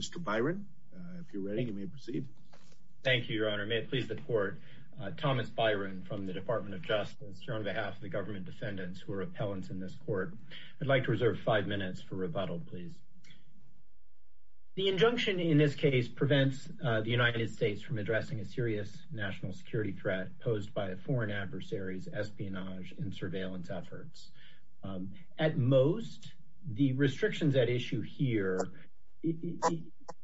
Mr. Byron, if you're ready, you may proceed. Thank you, Your Honor. May it please the Court, Thomas Byron from the Department of Justice here on behalf of the government defendants who are appellants in this court. I'd like to reserve five minutes for rebuttal, please. The injunction in this case prevents the United States from addressing a serious national security threat posed by foreign adversaries, espionage, and surveillance efforts. At most, the injunction here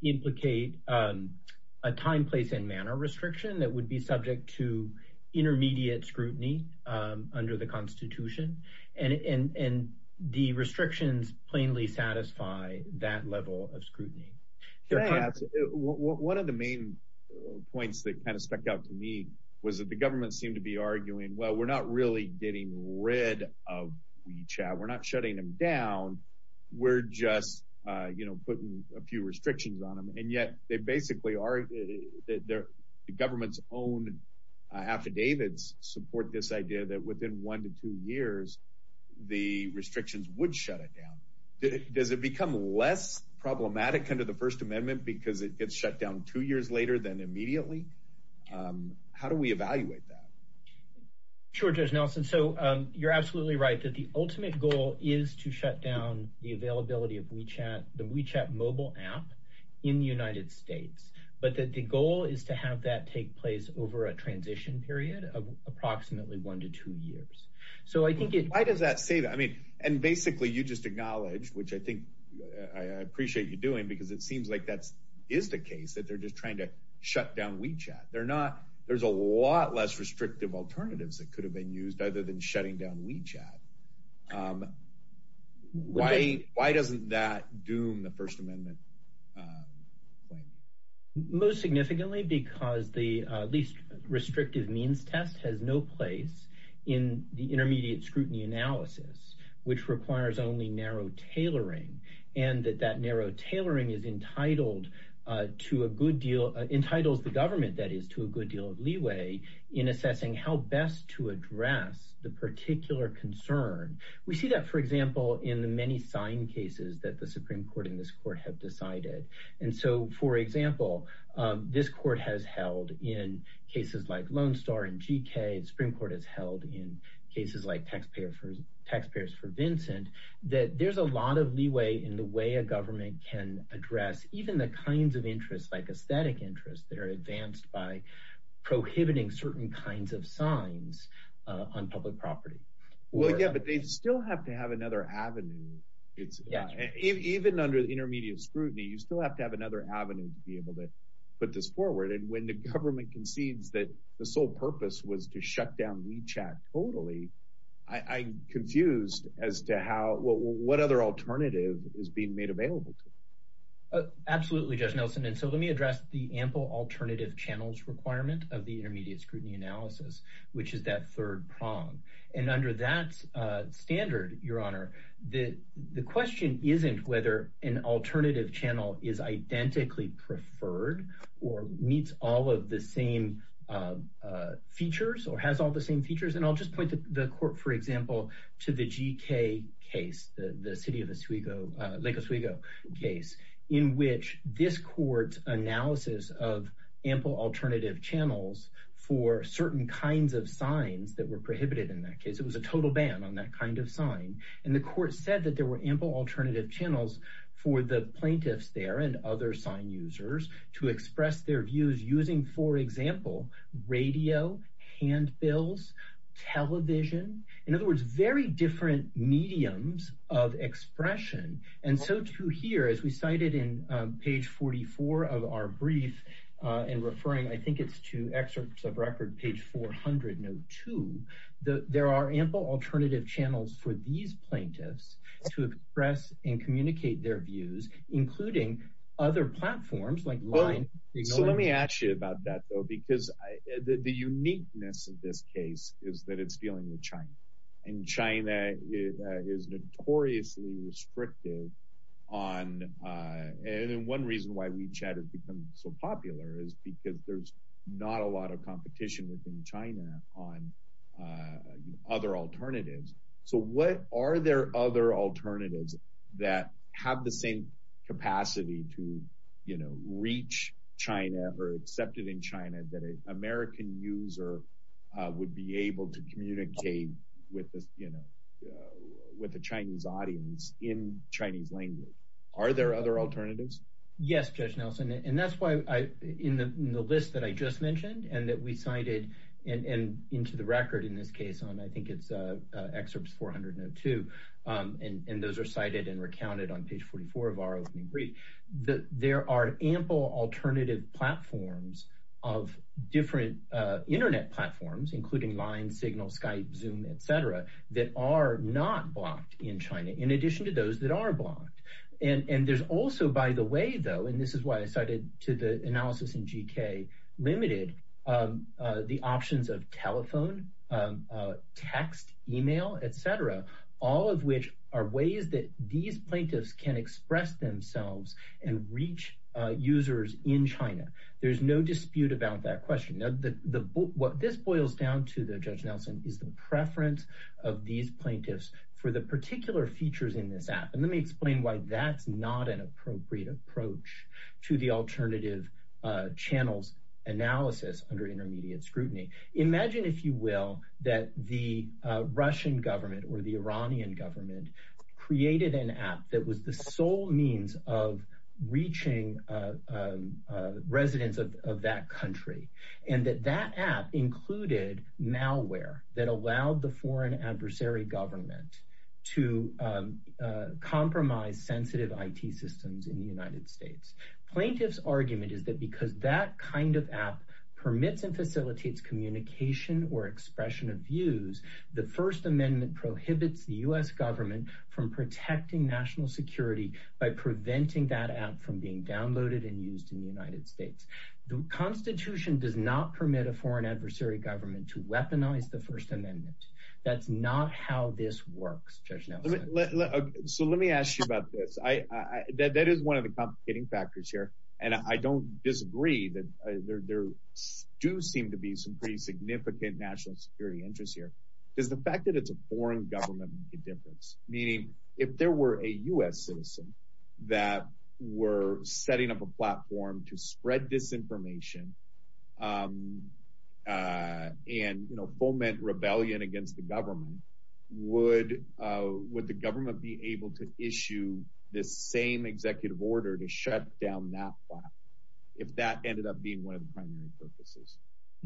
implicate a time, place, and manner restriction that would be subject to intermediate scrutiny under the Constitution, and the restrictions plainly satisfy that level of scrutiny. Your Honor, one of the main points that kind of stuck out to me was that the government seemed to be arguing, well, we're not really getting rid of WeChat. We're not shutting them down. We're just, you know, putting a few restrictions on them. And yet, they basically are, the government's own affidavits support this idea that within one to two years, the restrictions would shut it down. Does it become less problematic under the First Amendment because it gets shut down two years later than immediately? How do we evaluate that? Sure, Judge Nelson. So, you're absolutely right that the ultimate goal is to shut down the availability of WeChat, the WeChat mobile app, in the United States. But that the goal is to have that take place over a transition period of approximately one to two years. So, I think it... Why does that say that? I mean, and basically you just acknowledged, which I think I appreciate you doing, because it seems like that is the case, that they're just trying to shut down WeChat. They're not, there's a problem in shutting down WeChat. Why doesn't that doom the First Amendment claim? Most significantly, because the least restrictive means test has no place in the intermediate scrutiny analysis, which requires only narrow tailoring. And that that narrow tailoring is entitled to a good deal, entitles the government, that is, to a good deal of leeway in assessing how best to address the particular concern. We see that, for example, in the many sign cases that the Supreme Court in this court have decided. And so, for example, this court has held in cases like Lone Star and GK, the Supreme Court has held in cases like Taxpayers for Vincent, that there's a lot of leeway in the way a government can address even the kinds of interests, like aesthetic interests, that are advanced by prohibiting certain kinds of signs on public property. Well, yeah, but they still have to have another avenue. Even under the intermediate scrutiny, you still have to have another avenue to be able to put this forward. And when the government concedes that the sole purpose was to shut down WeChat totally, I'm confused as to how, what other alternative is being made available to them. Absolutely, Judge Nelson, and so let me address the ample alternative channels requirement of the intermediate scrutiny analysis, which is that third prong. And under that standard, Your Honor, the question isn't whether an alternative channel is identically preferred or meets all of the same features or has all the same features. And I'll just point the court, for example, to the GK case, the City of Oswego, Lake Oswego case, in which this court's analysis of ample alternative channels for certain kinds of signs that were prohibited in that case. It was a total ban on that kind of sign. And the court said that there were ample alternative channels for the plaintiffs there and other sign users to express their views using, for example, radio, handbills, television. In other words, very different mediums of expression. And so too here, as we cited in page 44 of our brief, in referring, I think it's to excerpts of record page 400, note two, there are ample alternative channels for these plaintiffs to express and communicate their views, including other platforms like LINE. So let me ask you about that, though, because the uniqueness of this case is that it's dealing with China. And China is notoriously restrictive on, and one reason why WeChat has become so popular is because there's not a lot of competition within China on other alternatives. So what are there other alternatives that have the same capacity to, you know, reach China or accepted in China that an American user would be able to communicate with you know, with the Chinese audience in Chinese language? Are there other alternatives? Yes, Judge Nelson. And that's why I in the list that I just mentioned, and that we cited, and into the record in this case on I think it's excerpts 402. And those are cited and recounted on page 44 of our opening brief, that there are ample alternative platforms of different internet platforms, including LINE, Signal, Skype, Zoom, etc, that are not blocked in China, in addition to those that are blocked. And there's also by the way, though, and this is why I cited to the analysis in GK, limited the options of telephone, text, email, etc, all of which are ways that these plaintiffs can express themselves and reach users in China. There's no dispute about that question. Now, what this boils down to though, Judge Nelson is the preference of these plaintiffs for the particular features in this app. And let me explain why that's not an appropriate approach to the alternative channels analysis under intermediate scrutiny. Imagine, if you will, that the Russian government or the Iranian government created an app that was the sole means of reaching residents of that country, and that that included malware that allowed the foreign adversary government to compromise sensitive IT systems in the United States. Plaintiff's argument is that because that kind of app permits and facilitates communication or expression of views, the First Amendment prohibits the US government from protecting national security by preventing that app from being downloaded and used in the United States. The Constitution does not permit a foreign adversary government to weaponize the First Amendment. That's not how this works, Judge Nelson. So let me ask you about this. That is one of the complicating factors here. And I don't disagree that there do seem to be some pretty significant national security interests here. Does the fact that it's a foreign government make a difference? Meaning, if there were a US citizen that were setting up a platform to spread disinformation and, you know, foment rebellion against the government, would would the government be able to issue this same executive order to shut down that file, if that ended up being one of the primary purposes?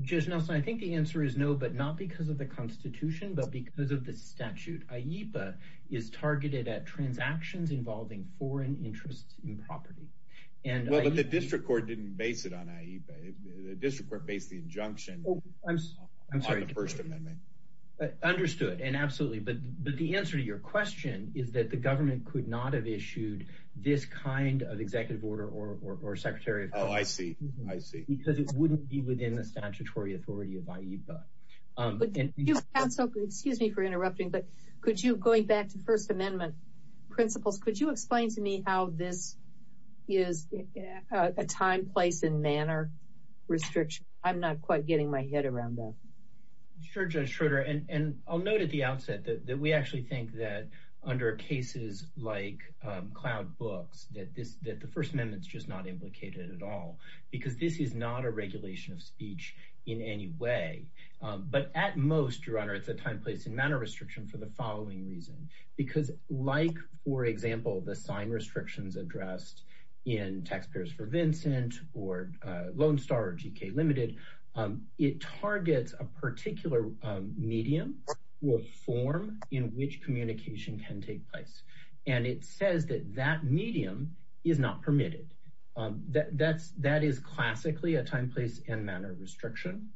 Judge Nelson, I think the answer is no, but not because of the Constitution, but because of the statute. AIPA is targeted at transactions involving foreign interests in property. Well, but the district court didn't base it on AIPA. The district court based the injunction on the First Amendment. Understood. And absolutely. But the answer to your question is that the government could not have issued this kind of executive order or Secretary of Justice because it wouldn't be within the statutory authority of AIPA. But excuse me for interrupting, but could you going back to First Amendment principles, could you explain to me how this is a time, place and manner restriction? I'm not quite getting my head around that. Sure, Judge Schroeder, and I'll note at the outset that we actually think that under cases like cloud books, that this that the First Amendment is just not implicated at all because this is not a regulation of speech in any way. But at most, Your Honor, it's a time, place and manner restriction for the following reason, because like, for example, the sign restrictions addressed in Taxpayers for Vincent or Lone Star or GK Limited, it targets a particular medium or form in which communication can take place. And it says that that medium is not permitted. That that's that is classically a time, place and manner restriction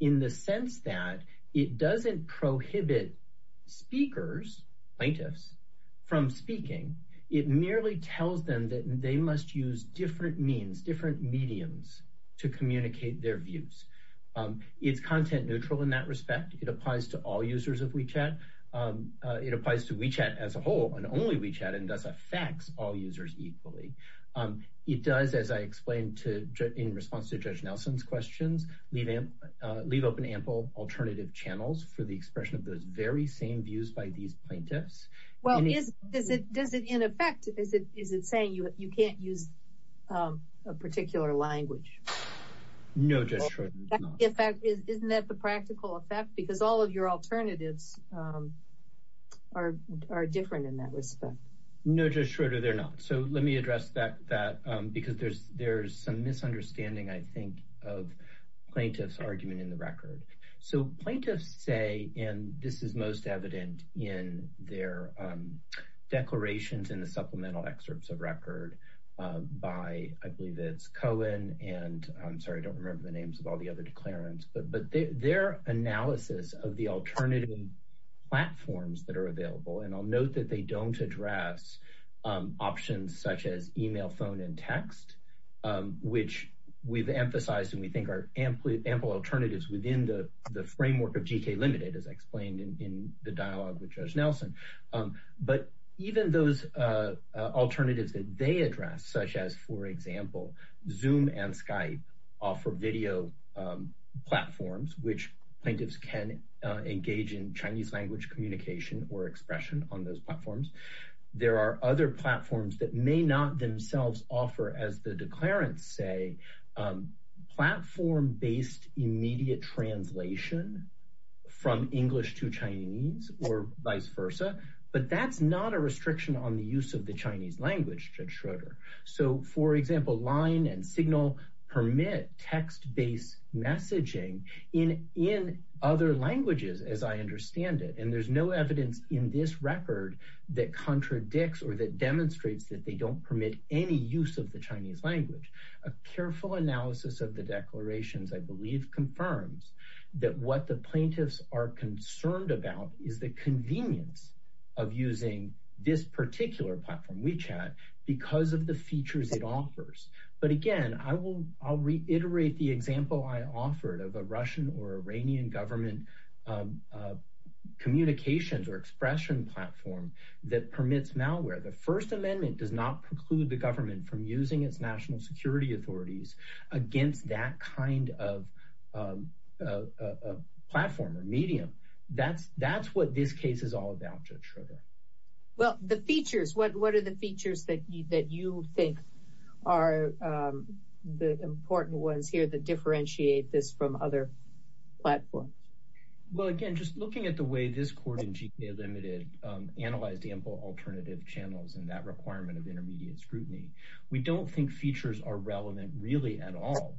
in the sense that it doesn't prohibit speakers, plaintiffs from speaking. It merely tells them that they must use different means, different mediums to communicate their views. It's content neutral in that respect. It applies to all users of WeChat. It applies to WeChat as a whole and only WeChat and thus affects all users equally. It does, as I explained to in response to Judge Nelson's questions, leave leave open ample alternative channels for the expression of those very same views by these plaintiffs. Well, is it does it in effect, is it is it saying you can't use a particular language? No, Judge Schroeder. In fact, isn't that the practical effect? Because all of your alternatives are are different in that respect. No, Judge Schroeder, they're not. So let me address that, that because there's there's some misunderstanding, I think, of plaintiffs argument in the record. So plaintiffs say and this is most evident in their declarations in the supplemental excerpts of record by I believe it's Cohen and I'm sorry, I don't analysis of the alternative platforms that are available. And I'll note that they don't address options such as email, phone and text, which we've emphasized and we think are ample alternatives within the framework of GK Limited, as explained in the dialogue with Judge Nelson. But even those alternatives that they address, such as, for example, Zoom and plaintiffs can engage in Chinese language communication or expression on those platforms. There are other platforms that may not themselves offer, as the declarants say, platform based immediate translation from English to Chinese or vice versa. But that's not a restriction on the use of the Chinese language, Judge Schroeder. So, for example, line and signal permit text based messaging in in other languages, as I understand it. And there's no evidence in this record that contradicts or that demonstrates that they don't permit any use of the Chinese language. A careful analysis of the declarations, I believe, confirms that what the plaintiffs are concerned about is the convenience of using this particular platform, WeChat, because of the features it offers. But again, I will I'll reiterate the example I offered of a Russian or Iranian government communications or expression platform that permits malware. The First Amendment does not preclude the government from using its national security authorities against that kind of platform or medium. That's that's what this case is all about, Judge Schroeder. Well, the features, what are the features that that you think are the important ones here that differentiate this from other platforms? Well, again, just looking at the way this court in GK Limited analyzed ample alternative channels and that requirement of intermediate scrutiny, we don't think features are relevant really at all.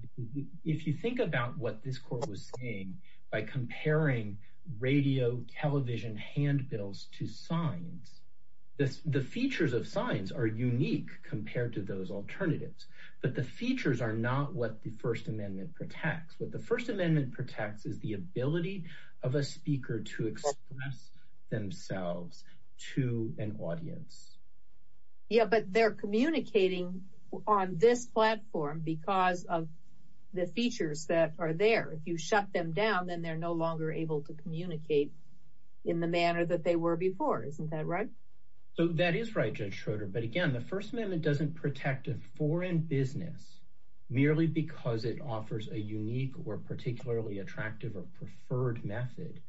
If you think about what this court was saying by comparing radio, television, hand signs, the features of signs are unique compared to those alternatives. But the features are not what the First Amendment protects. What the First Amendment protects is the ability of a speaker to express themselves to an audience. Yeah, but they're communicating on this platform because of the features that are there. If you shut them down, then they're no longer able to communicate in the manner that they were before. Isn't that right? So that is right, Judge Schroeder. But again, the First Amendment doesn't protect a foreign business merely because it offers a unique or particularly attractive or preferred method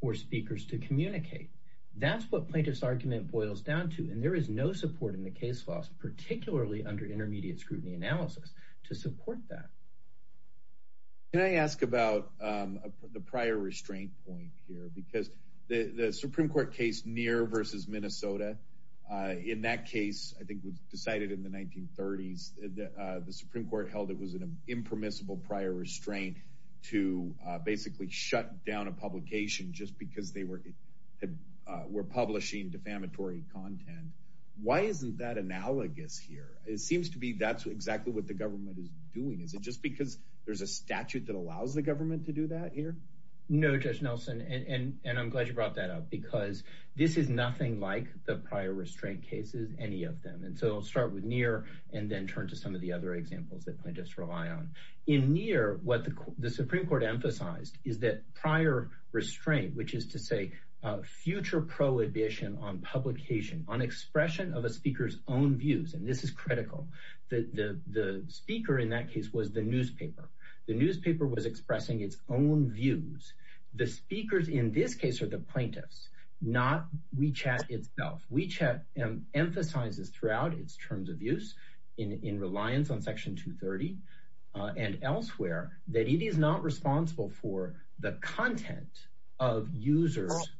for speakers to communicate. That's what plaintiff's argument boils down to. And there is no support in the case laws, particularly under intermediate scrutiny analysis to support that. Can I ask about the prior restraint point here, because the Supreme Court case, Neer versus Minnesota, in that case, I think was decided in the 1930s, the Supreme Court held it was an impermissible prior restraint to basically shut down a publication just because they were publishing defamatory content. Why isn't that analogous here? It seems to be that's exactly what the government is doing. Is it just because there's a statute that allows the government to do that here? No, Judge Nelson, and I'm glad you brought that up because this is nothing like the prior restraint cases, any of them. And so I'll start with Neer and then turn to some of the other examples that I just rely on. In Neer, what the Supreme Court emphasized is that prior restraint, which is to say future prohibition on publication, on expression of a speaker's own views. And this is critical that the speaker in that case was the newspaper. The newspaper was expressing its own views. The speakers in this case are the plaintiffs, not WeChat itself. WeChat emphasizes throughout its terms of use in reliance on Section 230 and elsewhere that it is not responsible for the content of users'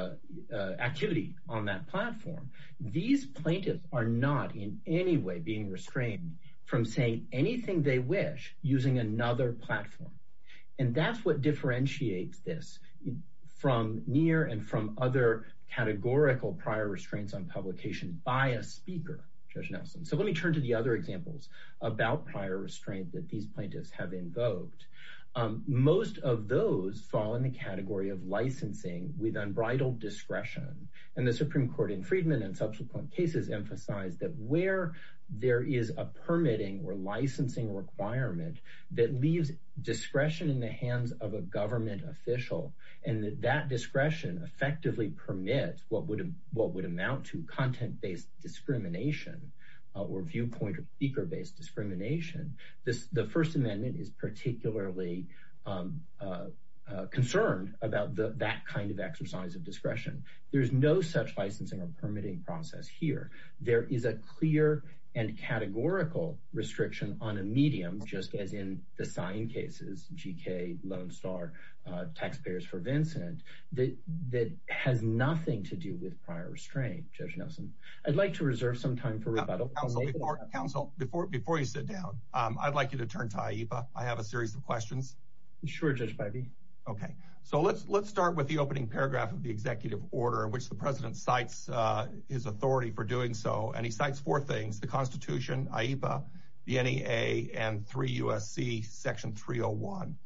activity on that platform. These plaintiffs are not in any way being restrained from saying anything they wish using another platform. And that's what differentiates this from Neer and from other categorical prior restraints on publication by a speaker, Judge Nelson. So let me turn to the other examples about prior restraint that these plaintiffs have invoked. Most of those fall in the category of licensing with unbridled discretion. And the Supreme Court in Freedman and subsequent cases emphasize that where there is a permitting or licensing requirement that leaves discretion in the hands of a government official and that discretion effectively permits what would amount to content-based discrimination or viewpoint-based discrimination. The First Amendment is particularly concerned about that kind of exercise of There's no such licensing or permitting process here. There is a clear and categorical restriction on a medium, just as in the sign cases, GK, Lone Star, Taxpayers for Vincent, that has nothing to do with prior restraint, Judge Nelson. I'd like to reserve some time for rebuttal. Counsel, before you sit down, I'd like you to turn to Aipa. I have a series of questions. Sure, Judge Pivey. OK, so let's let's start with the opening paragraph of the executive order in which the president cites his authority for doing so. And he cites four things. The Constitution, Aipa, the NEA and 3 U.S.C. Section 301.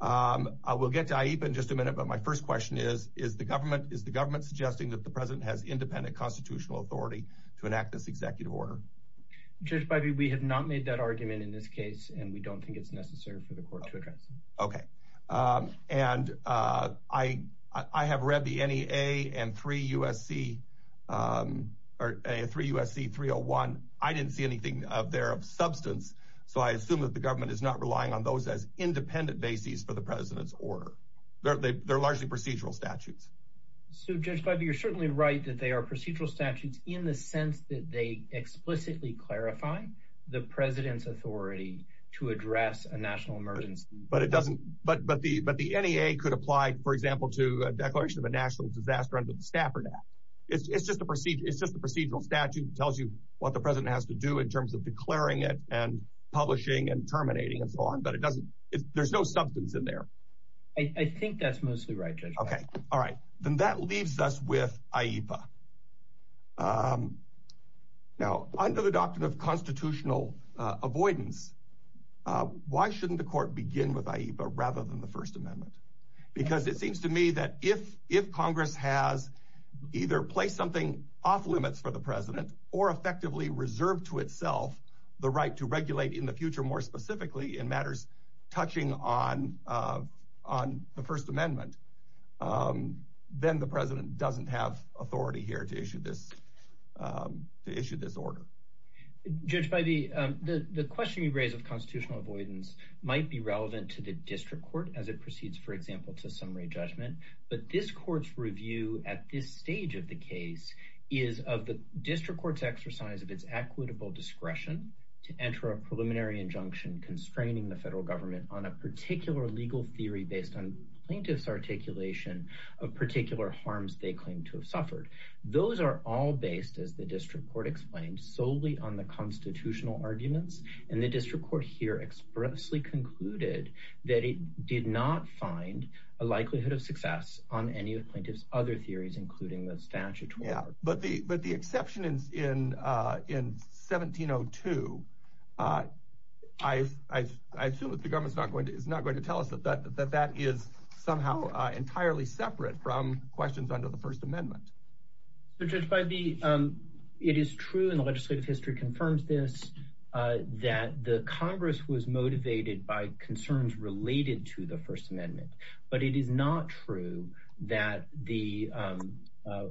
I will get to Aipa in just a minute. But my first question is, is the government is the government suggesting that the president has independent constitutional authority to enact this executive order? Judge Pivey, we have not made that argument in this case, and we don't think it's necessary for the court to address. OK, and I I have read the NEA and 3 U.S.C. or 3 U.S.C. 301. I didn't see anything of their substance. So I assume that the government is not relying on those as independent bases for the president's order. They're largely procedural statutes. So, Judge Pivey, you're certainly right that they are procedural statutes in the sense that they explicitly clarify the president's authority to address a national emergency. But it doesn't. But but the but the NEA could apply, for example, to a declaration of a national disaster under the Stafford Act. It's just a procedure. It's just the procedural statute tells you what the president has to do in terms of declaring it and publishing and terminating and so on. But it doesn't. There's no substance in there. I think that's mostly right. OK. All right. Then that leaves us with Aipa. Now, under the doctrine of constitutional avoidance, why shouldn't the court begin with Aipa rather than the First Amendment? Because it seems to me that if if Congress has either placed something off limits for the president or effectively reserved to itself the right to regulate in the future, more specifically in matters touching on on the First Amendment, then the president doesn't have authority here to issue this to issue this order. Judge, by the the question you raise of constitutional avoidance might be relevant to the district court as it proceeds, for example, to summary judgment. But this court's review at this stage of the case is of the district court's exercise of its equitable discretion to enter a preliminary injunction constraining the federal government on a particular legal theory based on plaintiff's articulation of particular harms they claim to have suffered. Those are all based, as the district court explained, solely on the constitutional arguments. And the district court here expressly concluded that it did not find a likelihood of success on any of plaintiff's other theories, including the statute. Yeah, but the but the exception is in in 1702. I, I, I assume that the government is not going to is not going to tell us that that that is somehow entirely separate from questions under the First Amendment. But just by the it is true in the legislative history confirms this, that the Congress was motivated by concerns related to the First Amendment. But it is not true that the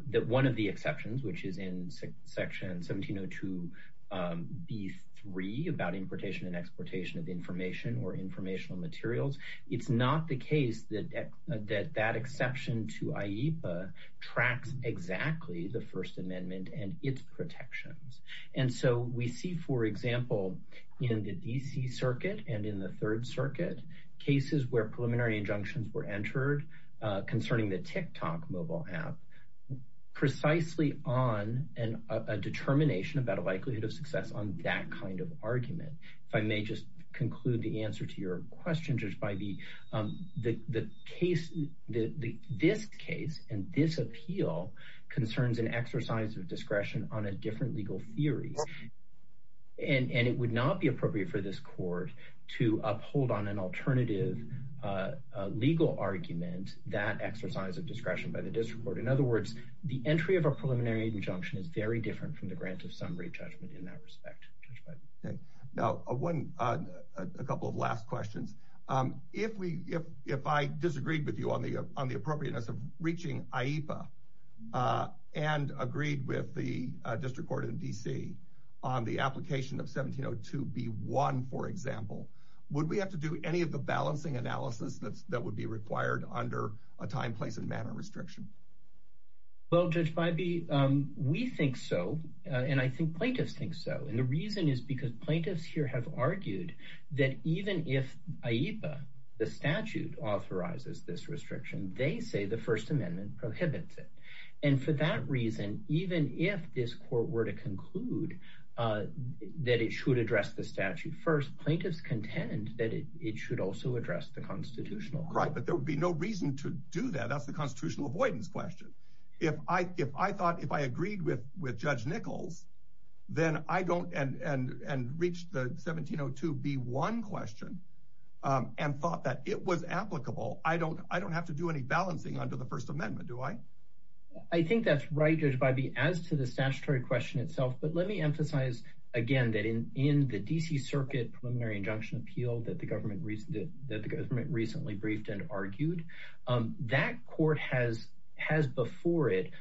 that one of the exceptions, which is in section 1702 B3 about importation and exportation of information or informational materials. It's not the case that that that exception to IEPA tracks exactly the First Amendment and its protections. And so we see, for example, in the D.C. Circuit and in the Third Circuit, cases where preliminary injunctions were entered concerning the TikTok mobile app precisely on a determination about a likelihood of success on that kind of argument. If I may just conclude the answer to your question, Judge Bybee, the case that this case and this appeal concerns an exercise of discretion on a different legal theory. And it would not be appropriate for this court to uphold on an alternative legal argument that exercise of discretion by the district court. In other words, the entry of a preliminary injunction is very different from the grant of summary judgment in that respect. OK, now a one a couple of last questions, if we if if I disagreed with you on the on the appropriateness of reaching IEPA and agreed with the district court in D.C. on the application of 1702 B1, for example, would we have to do any of the balancing analysis that would be required under a time, place and manner restriction? Well, Judge Bybee, we think so, and I think plaintiffs think so. And the reason is because plaintiffs here have argued that even if IEPA, the statute authorizes this restriction, they say the First Amendment prohibits it. And for that reason, even if this court were to conclude that it should address the statute first, plaintiffs contend that it should also address the constitutional right. But there would be no reason to do that. That's the constitutional avoidance question. If I if I thought if I agreed with with Judge Nichols, then I don't. And and reached the 1702 B1 question and thought that it was applicable. I don't I don't have to do any balancing under the First Amendment, do I? I think that's right, Judge Bybee, as to the statutory question itself. But let me emphasize again that in in the D.C. Circuit Preliminary Injunction Appeal that the government recently that the government recently briefed and argued, that court has has before it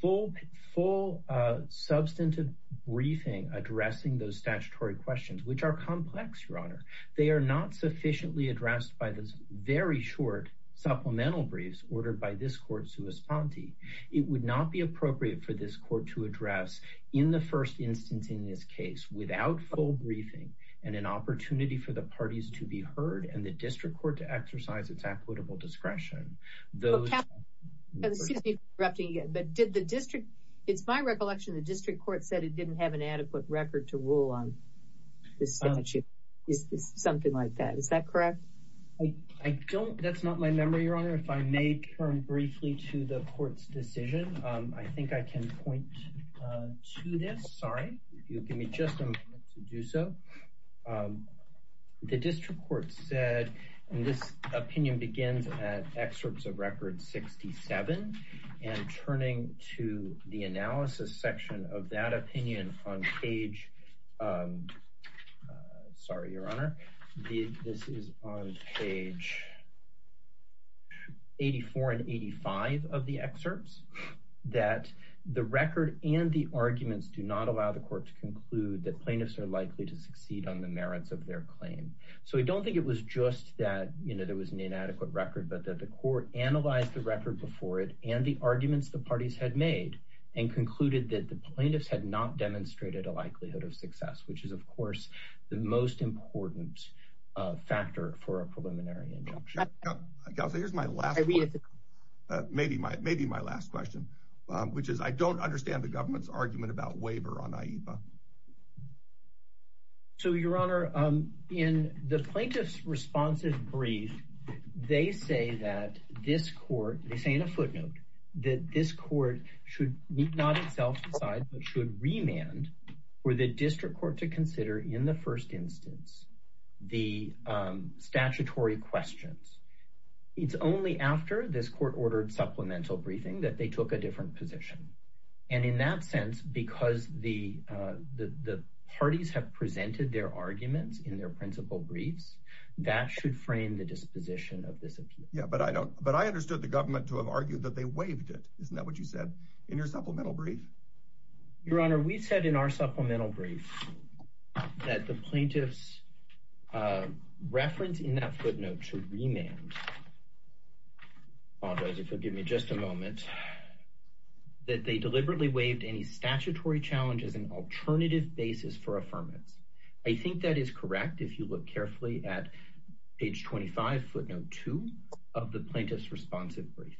full full substantive briefing, addressing those statutory questions, which are complex, Your Honor. They are not sufficiently addressed by this very short supplemental briefs ordered by this court, Souspanti. It would not be appropriate for this court to address in the first instance in this case without full briefing and an opportunity for the parties to be heard and the district court to exercise its equitable discretion. Those are the things that did the district. It's my recollection the district court said it didn't have an adequate record to rule on the statute. It's something like that. Is that correct? I don't. That's not my memory, Your Honor. If I may turn briefly to the court's decision, I think I can point to this. Sorry, if you give me just a minute to do so. The district court said this opinion begins at excerpts of record 67 and turning to the analysis section of that opinion on page. Sorry, Your Honor, this is on page. Eighty four and eighty five of the excerpts that the record and the arguments do not allow the court to conclude that plaintiffs are likely to succeed on the merits of their claim. So I don't think it was just that there was an inadequate record, but that the court analyzed the record before it and the arguments the parties had made and concluded that the plaintiffs had not demonstrated a likelihood of success, which is, of course, the most important factor for a preliminary injunction. Here's my last maybe my maybe my last question, which is I don't understand the government's argument about waiver on IEPA. So, Your Honor, in the plaintiff's responsive brief, they say that this court, they say in a footnote that this court should not itself decide, but should remand for the district court to consider in the first instance the statutory questions. It's only after this court ordered supplemental briefing that they took a different position. And in that sense, because the the parties have presented their arguments in their principal briefs, that should frame the disposition of this. Yeah, but I don't. But I understood the government to have argued that they waived it. Isn't that what you said in your supplemental brief? Your Honor, we said in our supplemental brief that the plaintiff's reference in that footnote to remand. I apologize if you'll give me just a moment that they deliberately waived any statutory challenge as an alternative basis for affirmance. I think that is correct. If you look carefully at page 25 footnote two of the plaintiff's responsive brief.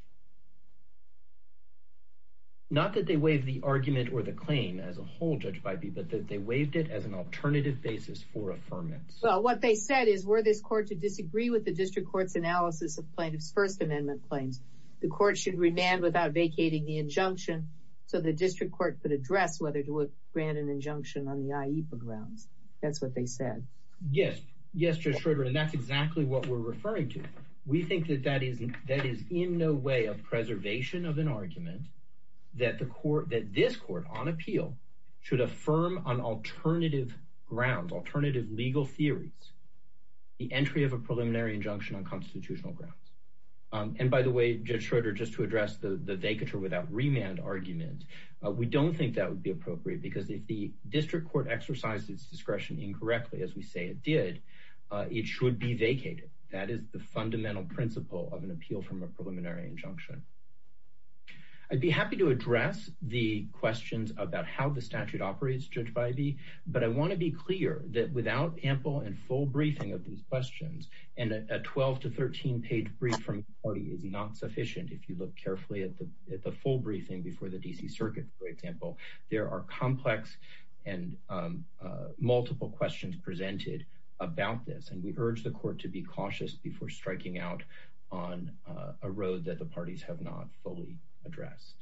Not that they waive the argument or the claim as a whole, Judge Bybee, but that they waived it as an alternative basis for affirmance. So what they said is, were this court to disagree with the district court's analysis of plaintiff's First Amendment claims? The court should remand without vacating the injunction. So the district court could address whether to grant an injunction on the grounds. That's what they said. Yes. Yes, Judge Schroeder. And that's exactly what we're referring to. We think that that is that is in no way a preservation of an argument that the court, that this court on appeal should affirm on alternative grounds, alternative legal theories, the entry of a preliminary injunction on constitutional grounds. And by the way, Judge Schroeder, just to address the vacature without remand argument, we don't think that would be appropriate because if the district court exercises discretion incorrectly, as we say it did, it should be vacated. That is the fundamental principle of an appeal from a preliminary injunction. I'd be happy to address the questions about how the statute operates, Judge Biby, but I want to be clear that without ample and full briefing of these questions and a 12 to 13 page brief from the court is not sufficient. If you look carefully at the at the full briefing before the D.C. Circuit, for example, there are complex and multiple questions presented about this. And we urge the court to be cautious before striking out on a road that the parties have not fully addressed.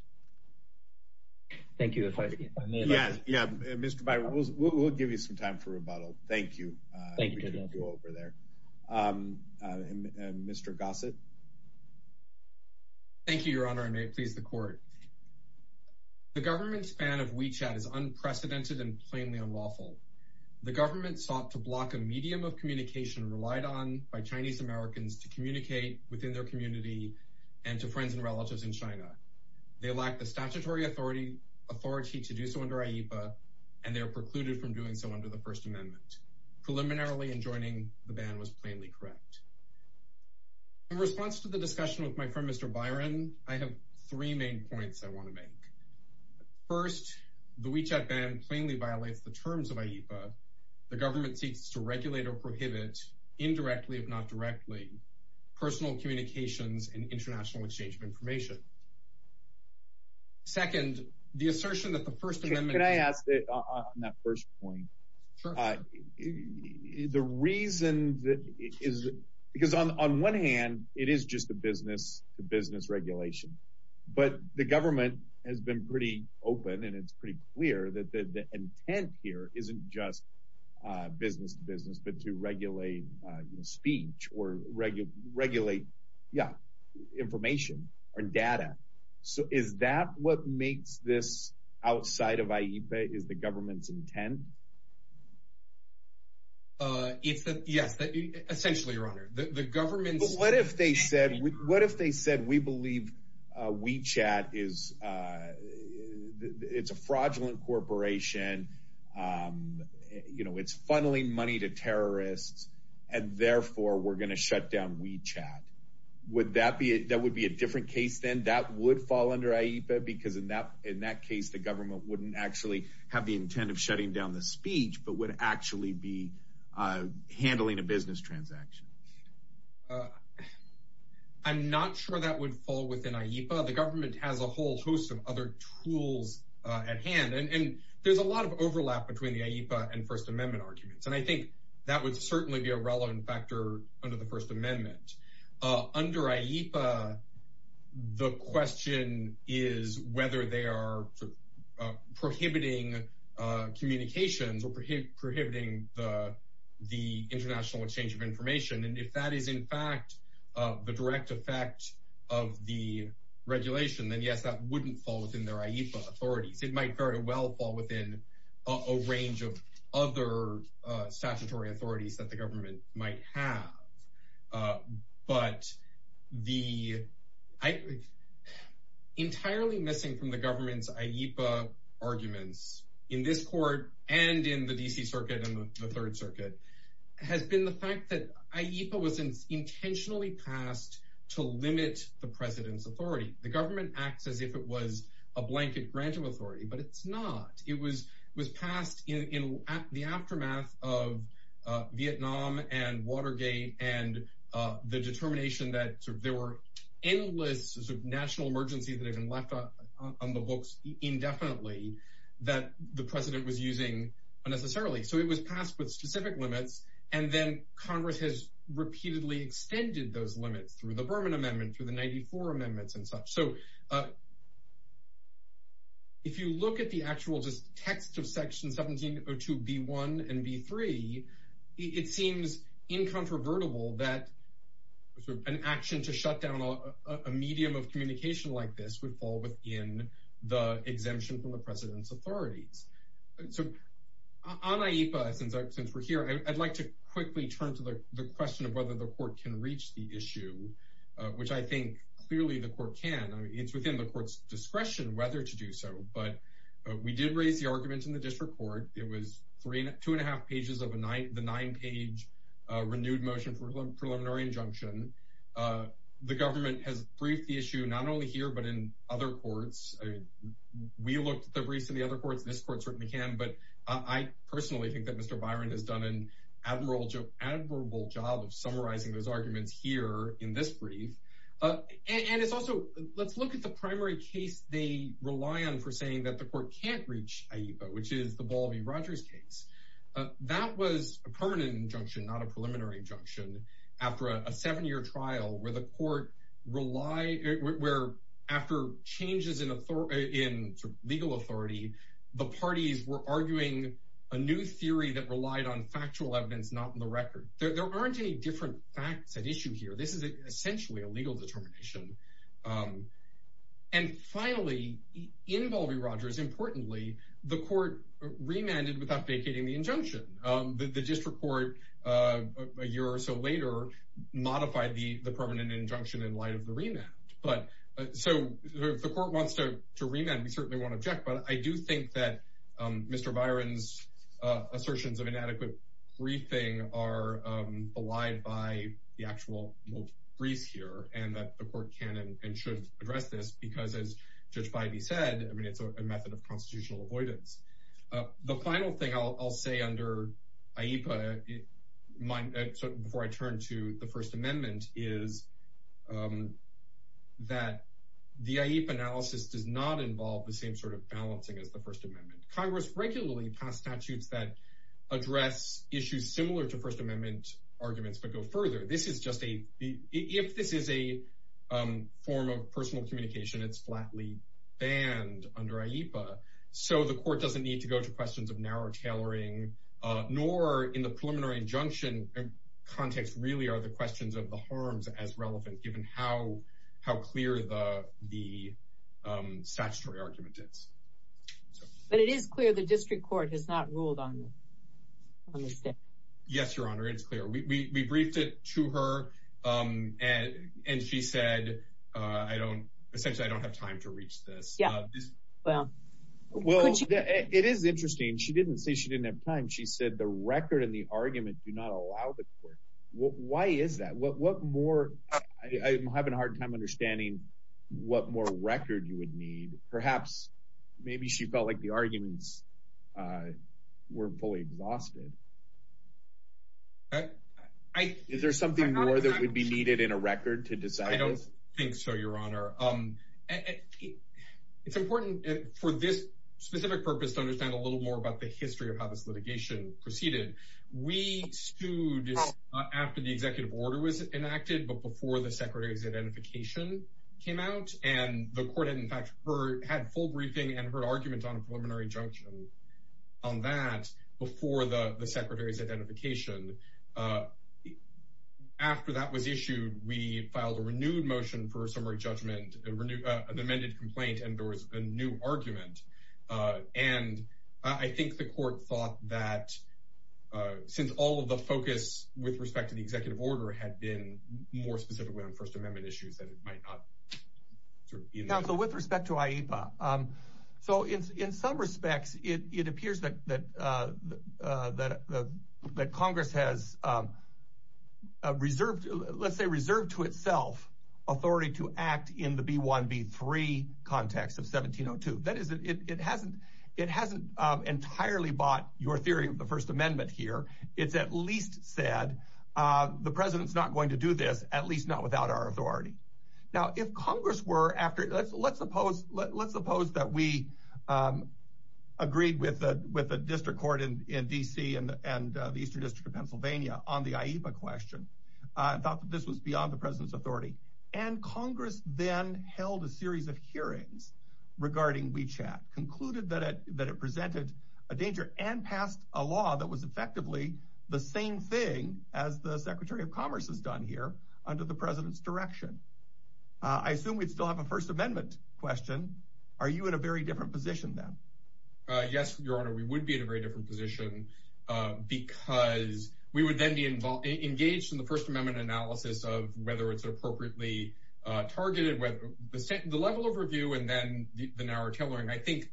Thank you. If I may. Yes. Yeah. Mr. Biby, we'll give you some time for rebuttal. Thank you. Thank you over there. Mr. Gossett. Thank you, Your Honor. I may please the court. The government's ban of WeChat is unprecedented and plainly unlawful. The government sought to block a medium of communication relied on by Chinese Americans to relatives in China. They lack the statutory authority authority to do so under IEPA, and they are precluded from doing so under the First Amendment. Preliminarily, enjoining the ban was plainly correct. In response to the discussion with my friend, Mr. Byron, I have three main points I want to make. First, the WeChat ban plainly violates the terms of IEPA. The government seeks to regulate or prohibit indirectly, if not directly, personal communications and international exchange of information. Second, the assertion that the First Amendment... Can I ask on that first point? The reason is because on one hand, it is just a business to business regulation. But the government has been pretty open, and it's pretty clear that the intent here isn't just business to business, but to regulate speech or regulate. Yeah, information or data. So is that what makes this outside of IEPA? Is the government's intent? Yes, essentially, Your Honor, the government... But what if they said, what if they said, we believe WeChat is a fraudulent corporation? You know, it's funneling money to terrorists, and therefore we're going to shut down WeChat. Would that be... That would be a different case, then? That would fall under IEPA? Because in that case, the government wouldn't actually have the intent of shutting down the speech, but would actually be handling a business transaction. I'm not sure that would fall within IEPA. The government has a whole host of other tools at hand, and there's a lot of overlap between the IEPA and First Amendment arguments. And I think that would certainly be a relevant factor under the First Amendment. Under IEPA, the question is whether they are prohibiting communications or prohibiting the international exchange of information. And if that is, in fact, the direct effect of the regulation, then yes, that wouldn't fall within their IEPA authorities. It might very well fall within a range of other statutory authorities that the government might have. But the... Entirely missing from the government's IEPA arguments in this court and in the D.C. Circuit and the Third Circuit has been the fact that IEPA was intentionally passed to limit the president's authority. The government acts as if it was a blanket grant of authority, but it's not. It was passed in the aftermath of Vietnam and Watergate and the determination that there were endless national emergencies that have been left on the books indefinitely that the president was using unnecessarily. So it was passed with specific limits, and then Congress has repeatedly extended those limits through the Berman Amendment, through the 94 Amendments and such. So if you look at the actual just text of Section 1702B1 and B3, it seems incontrovertible that an action to shut down a medium of communication like this would fall within the exemption from the president's authorities. So on IEPA, since we're here, I'd like to quickly turn to the question of whether the It's within the court's discretion whether to do so, but we did raise the arguments in the District Court. It was two and a half pages of the nine-page renewed motion for preliminary injunction. The government has briefed the issue not only here but in other courts. We looked at the briefs in the other courts. This court certainly can, but I personally think that Mr. Byron has done an admirable job of summarizing those arguments here in this brief. And it's also, let's look at the primary case they rely on for saying that the court can't reach IEPA, which is the Balby-Rogers case. That was a permanent injunction, not a preliminary injunction, after a seven-year trial where the court relied, where after changes in legal authority, the parties were arguing a new theory that relied on factual evidence, not on the record. There aren't any different facts at issue here. This is essentially a legal determination. And finally, in Balby-Rogers, importantly, the court remanded without vacating the injunction. The District Court, a year or so later, modified the permanent injunction in light of the remand. So if the court wants to remand, we certainly won't object, but I do think that Mr. Byron's assertions of inadequate briefing are belied by the actual briefs here, and that the court can and should address this because, as Judge Bybee said, it's a method of constitutional avoidance. The final thing I'll say under IEPA, before I turn to the First Amendment, is that the IEPA analysis does not involve the same sort of balancing as the First Amendment. Congress regularly passed statutes that address issues similar to First Amendment arguments, but go further. This is just a, if this is a form of personal communication, it's flatly banned under IEPA. So the court doesn't need to go to questions of narrow tailoring, nor in the preliminary injunction context, really are the questions of the harms as relevant, given how clear the statutory argument is. But it is clear the district court has not ruled on this. Yes, Your Honor, it's clear. We briefed it to her, and she said, I don't, essentially, I don't have time to reach this. Yeah, well. Well, it is interesting. She didn't say she didn't have time. She said the record and the argument do not allow the court. Why is that? What more, I'm having a hard time understanding what more record you would need. Perhaps, maybe she felt like the arguments were fully exhausted. Is there something more that would be needed in a record to decide? I don't think so, Your Honor. It's important for this specific purpose to understand a little more about the history of how this litigation proceeded. We stood after the executive order was enacted, but before the Secretary's identification came out, and the court, in fact, had full briefing and her argument on a preliminary junction on that before the Secretary's identification. After that was issued, we filed a renewed motion for a summary judgment, an amended complaint, and there was a new argument. And I think the court thought that since all of the focus with respect to the executive order had been more specifically on First Amendment issues, that it might not. Counsel, with respect to IEPA, so in some respects, it appears that Congress has reserved, let's say, reserved to itself authority to act in the B-1, B-3 context of 1702. That is, it hasn't entirely bought your theory of the First Amendment here. It's at least said, the President's not going to do this, at least not without our authority. Now, if Congress were after, let's suppose that we agreed with the District Court in D.C. and the Eastern District of Pennsylvania on the IEPA question, and thought that this was beyond the President's authority, and Congress then held a series of hearings regarding WeChat, concluded that it presented a danger, and passed a law that was effectively the same thing as the Secretary of Commerce has done here under the President's direction, I assume we'd still have a First Amendment question. Are you in a very different position then? Yes, Your Honor, we would be in a very different position because we would then be engaged in the First Amendment analysis of whether it's appropriately targeted, whether the level overview, and then the narrow tailoring. I think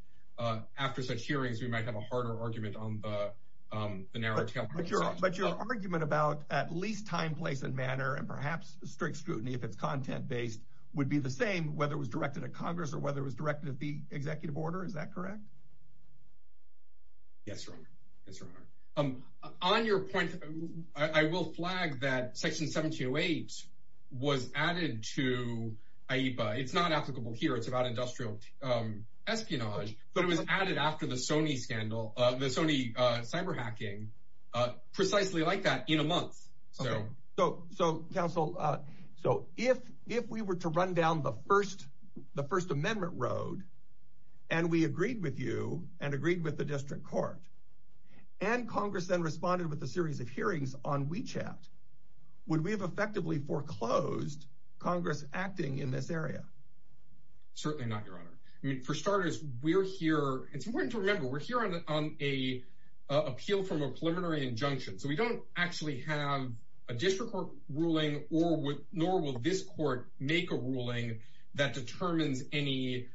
after such hearings, we might have a harder argument on the narrow tailoring. But your argument about at least time, place, and manner, and perhaps strict scrutiny if it's content-based, would be the same whether it was directed at Congress or whether it was directed at the Executive Order, is that correct? Yes, Your Honor. Yes, Your Honor. On your point, I will flag that Section 1708 was added to IEPA. It's not applicable here. It's about industrial espionage, but it was added after the Sony scandal, the Sony cyber hacking, precisely like that in a month. So, Counsel, if we were to run down the First Amendment road, and we agreed with you and agreed with the District Court, and Congress then responded with a series of hearings on Certainly not, Your Honor. I mean, for starters, we're here, it's important to remember, we're here on a appeal from a preliminary injunction. So we don't actually have a District Court ruling, nor will this court make a ruling that determines any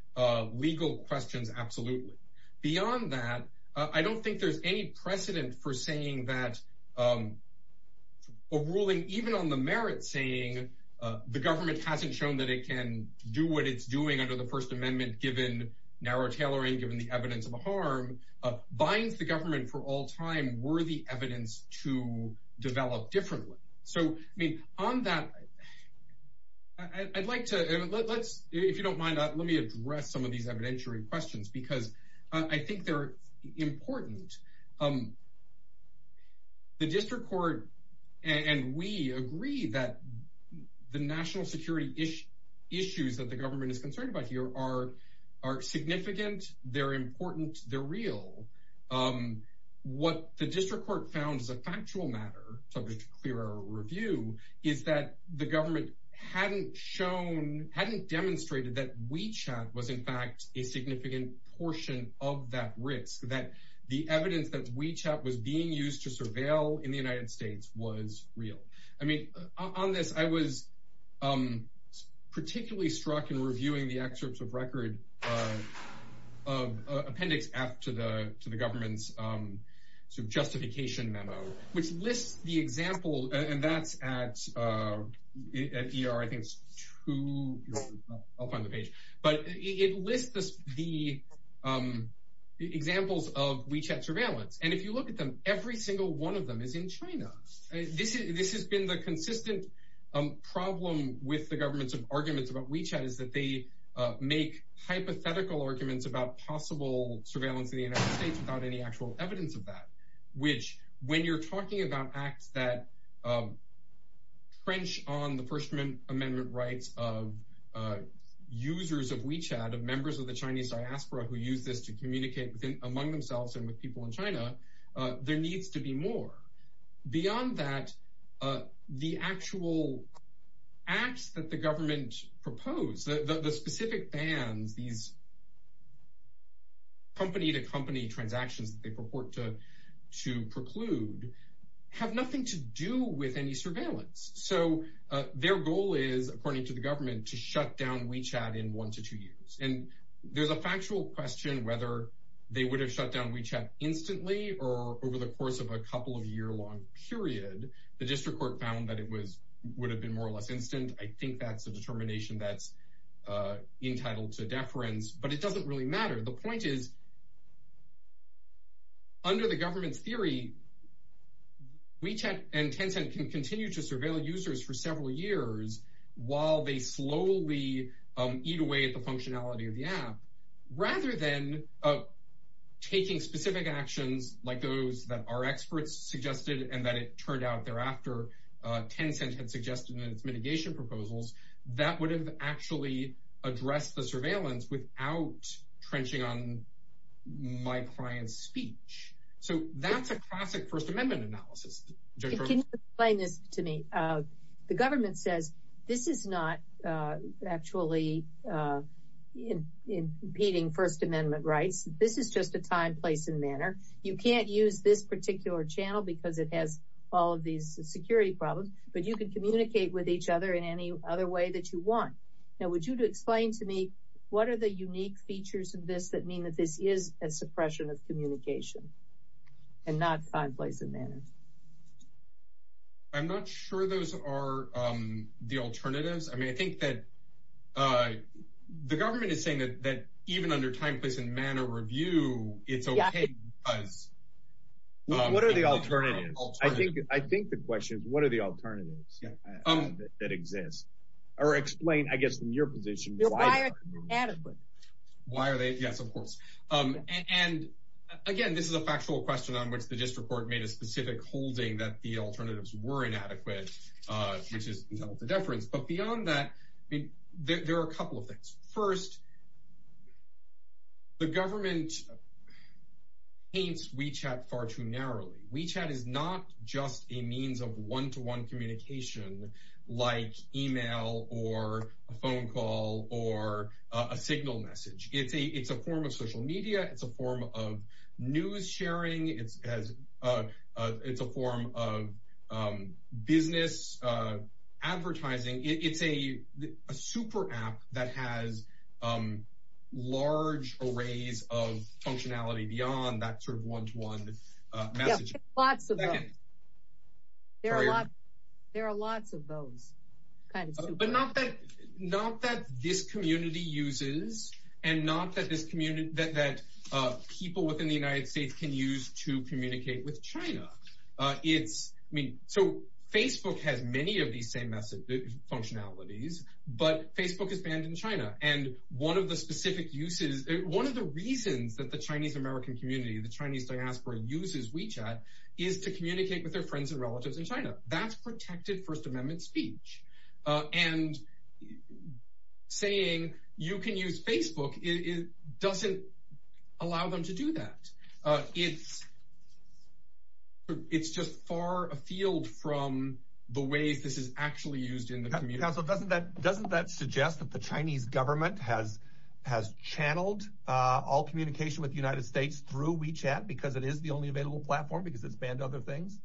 legal questions, absolutely. Beyond that, I don't think there's any precedent for saying that a ruling, even on the merit saying the government hasn't shown that it can do what it's doing under the First Amendment, given narrow tailoring, given the evidence of harm, binds the government for all time worthy evidence to develop differently. So, I mean, on that, I'd like to let's, if you don't mind, let me address some of these evidentiary questions, because I think they're important. The District Court, and we agree that the national security issues that the government is concerned about here are significant, they're important, they're real. What the District Court found is a factual matter, subject to clearer review, is that the government hadn't shown, hadn't demonstrated that WeChat was, in fact, a significant portion of that risk, that the evidence that WeChat was being used to surveil in the United States was real. I mean, on this, I was particularly struck in reviewing the excerpts of record of appendix F to the government's justification memo, which lists the example, and that's at ER, I think it's two, I'll find the page. But it lists the examples of WeChat surveillance, and if you look at them, every single one of them is in China. This has been the consistent problem with the government's arguments about WeChat is that they make hypothetical arguments about possible surveillance in the United States without any actual evidence of that, which, when you're talking about acts that trench on the First Amendment rights of users of WeChat, of members of the Chinese diaspora who use this to communicate among themselves and with people in China, there needs to be more. Beyond that, the actual acts that the government proposed, the specific bans, these company to company transactions that they purport to preclude, have nothing to do with any surveillance. So their goal is, according to the government, to shut down WeChat in one to two years. And there's a factual question whether they would have shut down WeChat instantly or over the course of a couple of year long period. The district court found that it would have been more or less instant. I think that's a determination that's entitled to deference, but it doesn't really matter. The point is, under the government's theory, WeChat and Tencent can continue to surveil users for several years while they slowly eat away at the functionality of the app. Rather than taking specific actions like those that our experts suggested and that it turned out thereafter Tencent had suggested in its mitigation proposals, that would have actually addressed the surveillance without trenching on my client's speech. So that's a classic First Amendment analysis. Can you explain this to me? The government says, this is not actually impeding First Amendment rights. This is just a time, place, and manner. You can't use this particular channel because it has all of these security problems. But you can communicate with each other in any other way that you want. Now, would you explain to me, what are the unique features of this that mean that this is a suppression of communication and not time, place, and manner? I'm not sure those are the alternatives. I mean, I think that the government is saying that even under time, place, and manner review, it's okay. What are the alternatives? I think the question is, what are the alternatives that exist? Or explain, I guess, in your position, why are they inadequate? Why are they? Yes, of course. And again, this is a factual question on which the district court made a specific holding that the alternatives were inadequate, which is the deference. But beyond that, there are a couple of things. First, the government paints WeChat far too narrowly. WeChat is not just a means of one-to-one communication, like email or a phone call or a signal message. It's a form of social media. It's a form of news sharing. It's a form of business advertising. It's a super app that has large arrays of functionality beyond that sort of one-to-one messaging. Lots of them. There are lots of those. But not that this community uses, and not that people within the United States can use to communicate with China. So Facebook has many of these same functionalities, but Facebook is banned in China. And one of the specific uses, one of the reasons that the Chinese American community, the Chinese diaspora, uses WeChat is to communicate with their friends and relatives in China. That's protected First Amendment speech. And saying, you can use Facebook, it doesn't allow them to do that. It's just far afield from the ways this is actually used in the community. Counsel, doesn't that suggest that the Chinese government has channeled all communication with the United States through WeChat, because it is the only available platform, because it's banned other things?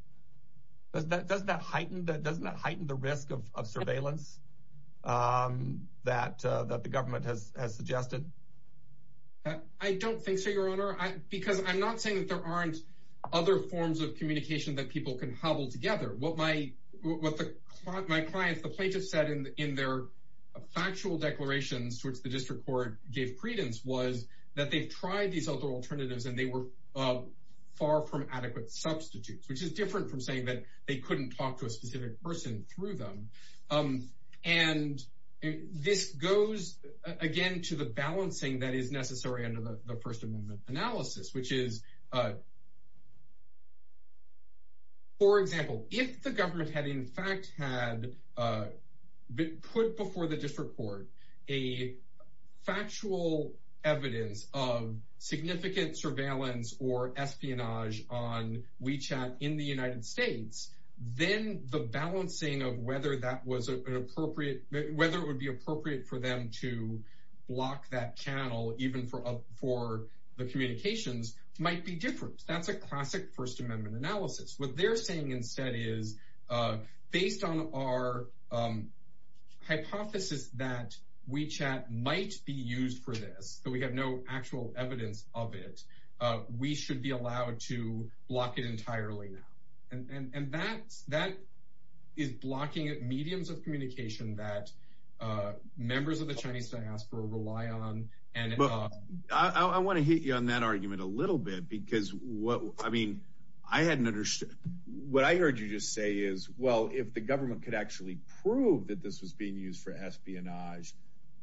Doesn't that heighten the risk of surveillance that the government has suggested? I don't think so, Your Honor. Because I'm not saying that there aren't other forms of communication that people can hobble together. What my clients, the plaintiffs said in their factual declarations, which the district court gave credence, was that they've tried these other alternatives and they were far from adequate substitutes, which is different from saying that they couldn't talk to a specific person through them. And this goes, again, to the balancing that is necessary under the First Amendment analysis, which is, for example, if the government had in fact had put before the district court a factual evidence of significant surveillance or espionage on WeChat in the United States, then the balancing of whether it would be appropriate for them to block that channel, even for the communications, might be different. That's a classic First Amendment analysis. What they're saying instead is, based on our hypothesis that WeChat might be used for this, but we have no actual evidence of it, we should be allowed to block it entirely now. And that is blocking mediums of communication that members of the Chinese diaspora rely on. I want to hit you on that argument a little bit. What I heard you just say is, well, if the government could actually prove that this was being used for espionage,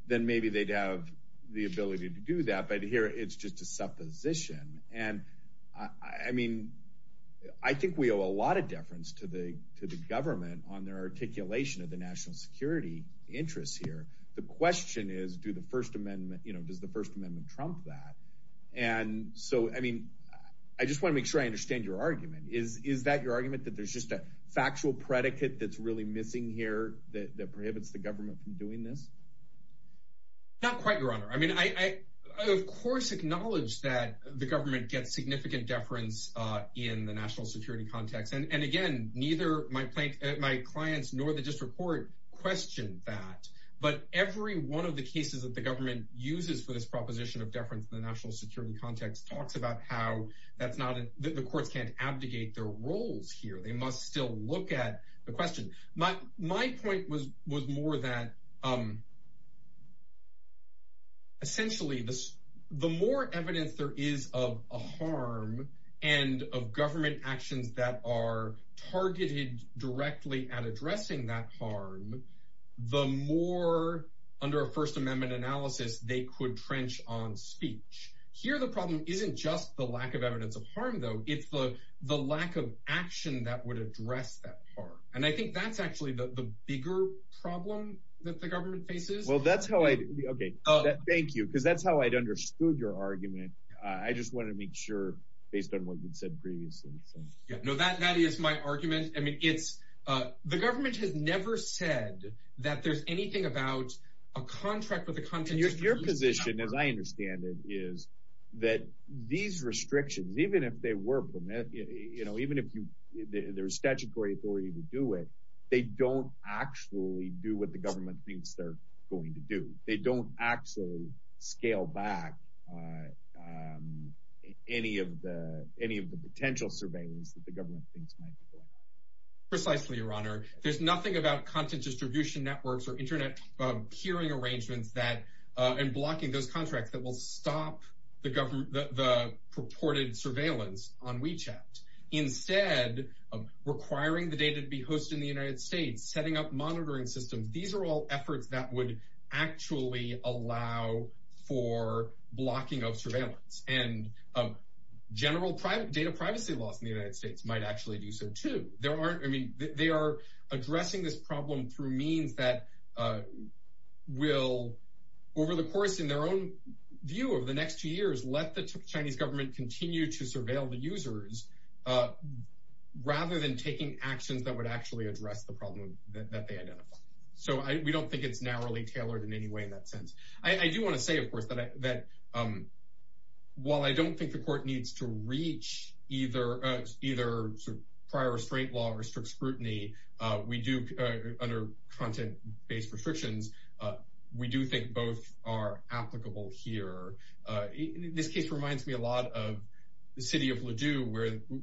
then maybe they'd have the ability to do that. But here, it's just a supposition. I think we owe a lot of deference to the government on their articulation of the national security interests here. The question is, does the First Amendment trump that? I just want to make sure I understand your argument. Is that your argument, that there's just a factual predicate that's really missing here that prohibits the government from doing this? Not quite, Your Honor. I mean, I of course acknowledge that the government gets significant deference in the national security context. And again, neither my clients nor the district court question that. But every one of the cases that the government uses for this proposition of deference in the national security context talks about how the courts can't abdicate their roles here. They must still look at the question. My point was more that, essentially, the more evidence there is of a harm and of government actions that are targeted directly at addressing that harm, the more, under a First Amendment analysis, they could trench on speech. Here, the problem isn't just the lack of evidence of harm, though. It's the lack of action that would address that harm. And I think that's actually the bigger problem that the government faces. Well, that's how I—okay, thank you. Because that's how I'd understood your argument. I just wanted to make sure, based on what you'd said previously. Yeah, no, that is my argument. I mean, it's—the government has never said that there's anything about a contract with a— And your position, as I understand it, is that these restrictions, even if they were permitted, you know, even if there's statutory authority to do it, they don't actually do what the government thinks they're going to do. They don't actually scale back any of the potential surveillance that the government thinks might be going on. Precisely, Your Honor. There's nothing about content distribution networks or internet peering arrangements that—and blocking those contracts that will stop the government—the purported surveillance on WeChat. Instead, requiring the data to be hosted in the United States, setting up monitoring systems, these are all efforts that would actually allow for blocking of surveillance. And general data privacy laws in the United States might actually do so, too. There aren't—I mean, they are addressing this problem through means that will, over the course, in their own view, over the next two years, let the Chinese government continue to surveil the users, rather than taking actions that would actually address the problem that they identify. So we don't think it's narrowly tailored in any way in that sense. I do want to say, of course, that while I don't think the court needs to reach either prior restraint law or strict scrutiny, we do, under content-based restrictions, we do think both are applicable here. This case reminds me a lot of the city of Ladue,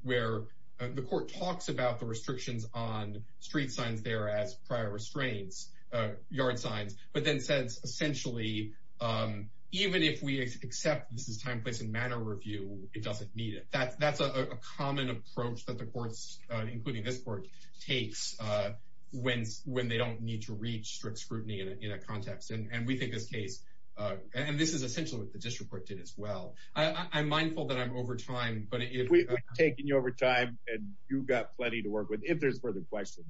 where the court talks about the restrictions on street signs there as prior restraints, yard signs, but then says, essentially, even if we accept this is time, place, and manner review, it doesn't need it. That's a common approach that the courts, including this court, takes when they don't need to reach strict scrutiny in a context. And we think this case—and this is essentially what the district court did as well. I'm mindful that I'm over time, but if— If there's further questions,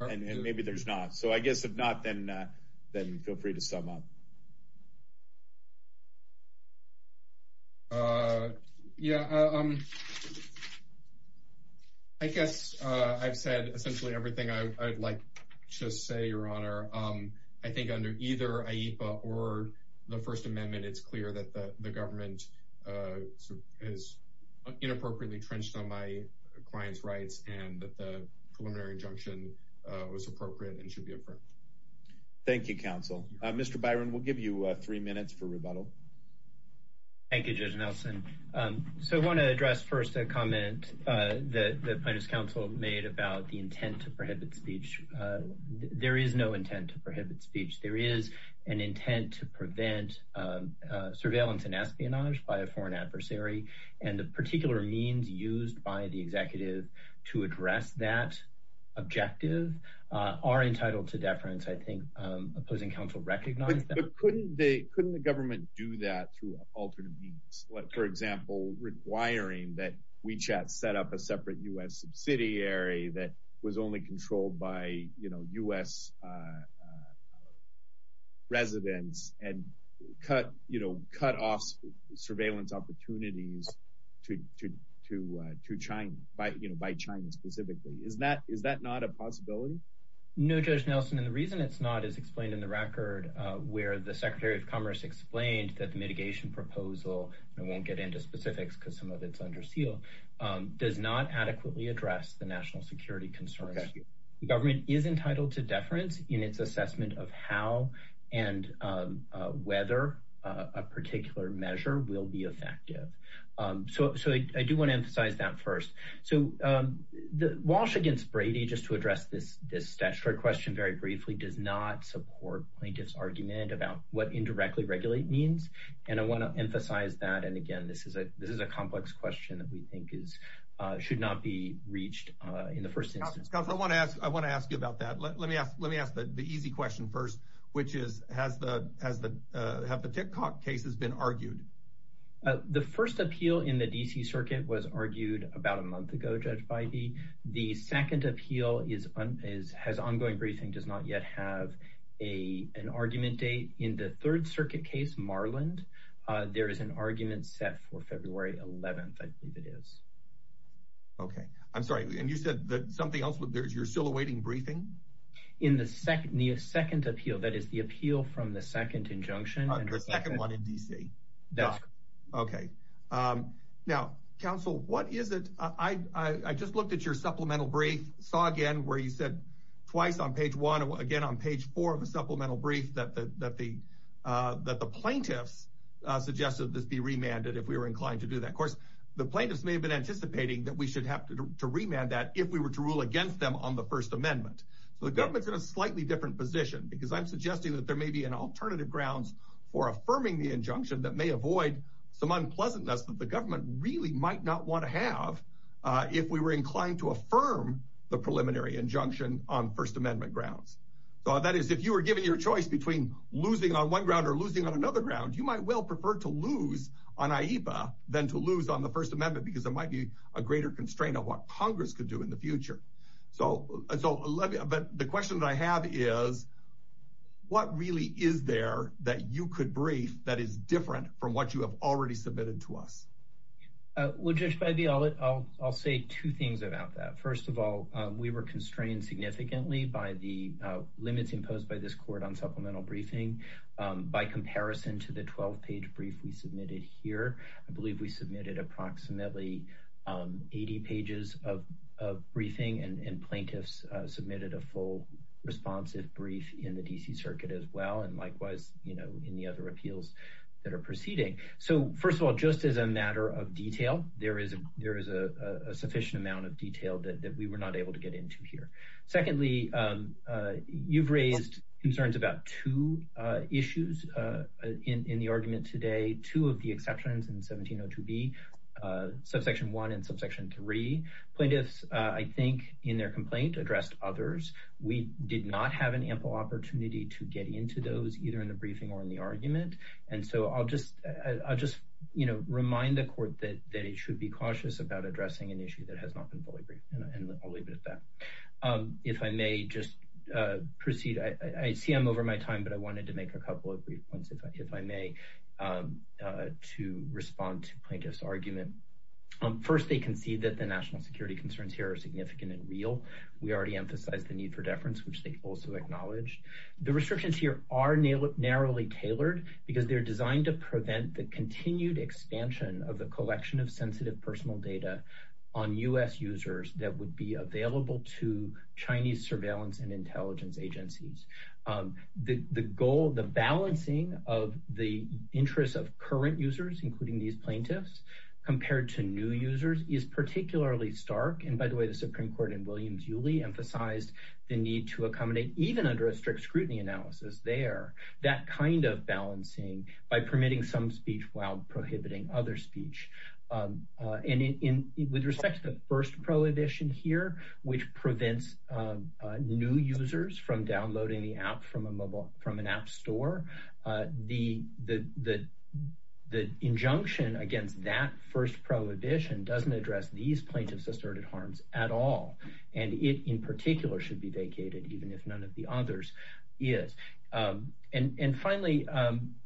and maybe there's not. So I guess if not, then feel free to sum up. Yeah, I guess I've said essentially everything I'd like to say, Your Honor. I think under either AIPA or the First Amendment, it's clear that the government is inappropriately trenched on my client's rights, and that the preliminary injunction was appropriate and should be affirmed. Thank you, counsel. Mr. Byron, we'll give you three minutes for rebuttal. Thank you, Judge Nelson. So I want to address first a comment that the plaintiff's counsel made about the intent to prohibit speech. There is no intent to prohibit speech. There is an intent to prevent surveillance and espionage by a foreign adversary, and the particular means used by the executive to address that objective are entitled to deference. I think opposing counsel recognized that. But couldn't they—couldn't the government do that through alternative means? Like, for example, requiring that WeChat set up a separate U.S. subsidiary that was only to—to China, you know, by China specifically. Is that—is that not a possibility? No, Judge Nelson, and the reason it's not is explained in the record where the Secretary of Commerce explained that the mitigation proposal—and I won't get into specifics because some of it's under seal—does not adequately address the national security concerns. The government is entitled to deference in its assessment of how and whether a particular measure will be effective. So—so I do want to emphasize that first. So the Walsh against Brady, just to address this—this statutory question very briefly, does not support plaintiffs' argument about what indirectly regulate means, and I want to emphasize that. And again, this is a—this is a complex question that we think is—should not be reached in the first instance. Counsel, I want to ask—I want to ask you about that. Let me ask—let me ask the easy question first, which is, has the—has the—have the TikTok case has been argued? Uh, the first appeal in the D.C. Circuit was argued about a month ago, Judge Feige. The second appeal is—is—has ongoing briefing, does not yet have a—an argument date. In the Third Circuit case, Marland, there is an argument set for February 11th, I believe it is. Okay. I'm sorry, and you said that something else would—you're still awaiting briefing? In the second—the second appeal, that is, the appeal from the second injunction— The second one in D.C. Okay. Now, Counsel, what is it—I—I—I just looked at your supplemental brief, saw again where you said twice on page one, again on page four of the supplemental brief that the—that the—that the plaintiffs suggested this be remanded if we were inclined to do that. Of course, the plaintiffs may have been anticipating that we should have to remand that if we were to rule against them on the First Amendment. So the government's in a slightly different position, because I'm suggesting that there affirming the injunction that may avoid some unpleasantness that the government really might not want to have if we were inclined to affirm the preliminary injunction on First Amendment grounds. So that is, if you were given your choice between losing on one ground or losing on another ground, you might well prefer to lose on AIPA than to lose on the First Amendment, because there might be a greater constraint on what Congress could do in the future. So—so let me—but the question that I have is, what really is there that you could brief that is different from what you have already submitted to us? Well, Judge Biby, I'll—I'll—I'll say two things about that. First of all, we were constrained significantly by the limits imposed by this court on supplemental briefing. By comparison to the 12-page brief we submitted here, I believe we submitted approximately 80 pages of—of briefing, and—and plaintiffs submitted a full responsive brief in the D.C. Circuit as well, and likewise, you know, in the other appeals that are proceeding. So, first of all, just as a matter of detail, there is—there is a sufficient amount of detail that—that we were not able to get into here. Secondly, you've raised concerns about two issues in—in the argument today, two of the exceptions in 1702B, subsection 1 and subsection 3. Plaintiffs, I think, in their complaint addressed others. We did not have an ample opportunity to get into those, either in the briefing or in the argument, and so I'll just—I'll just, you know, remind the court that—that it should be cautious about addressing an issue that has not been fully briefed, and I'll leave it at that. If I may just proceed, I—I see I'm over my time, but I wanted to make a couple of brief points, if I—if I may, to respond to Plaintiffs' argument. First, they concede that the national security concerns here are significant and real. We already emphasized the need for deference, which they also acknowledged. The restrictions here are narrowly tailored because they're designed to prevent the continued expansion of the collection of sensitive personal data on U.S. users that would be available to Chinese surveillance and intelligence agencies. The—the goal—the balancing of the interests of current users, including these plaintiffs, compared to new users, is particularly stark. And by the way, the Supreme Court in Williams-Uley emphasized the need to accommodate, even under a strict scrutiny analysis there, that kind of balancing by permitting some speech while prohibiting other speech. And in—with respect to the first prohibition here, which prevents new users from downloading the app from a mobile—from an app store, the—the injunction against that first prohibition doesn't address these plaintiffs' asserted harms at all. And it, in particular, should be vacated, even if none of the others is. And finally,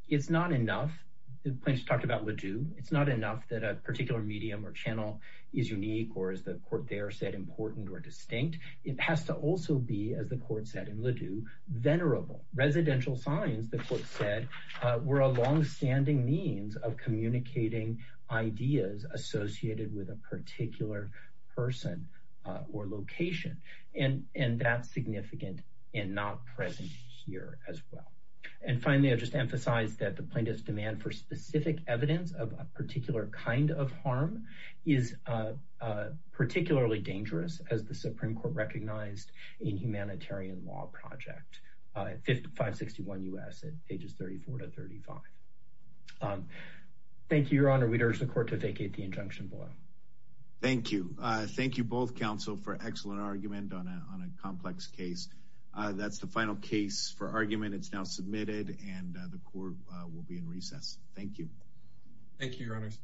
it's not enough—the plaintiffs talked about Ladue. It's not enough that a particular medium or channel is unique or, as the court there said, important or distinct. It has to also be, as the court said in Ladue, venerable. Residential signs, the court said, were a long-standing means of communicating ideas associated with a particular person or location. And—and that's significant and not present here as well. And finally, I'll just emphasize that the plaintiff's demand for specific evidence of a particular kind of harm is particularly dangerous, as the Supreme Court recognized in Humanitarian Law Project, 561 U.S., at pages 34 to 35. Thank you, Your Honor. We'd urge the court to vacate the injunction below. Thank you. Thank you both, counsel, for an excellent argument on a—on a complex case. That's the final case for argument. It's now submitted, and the court will be in recess. Thank you. Thank you, Your Honors.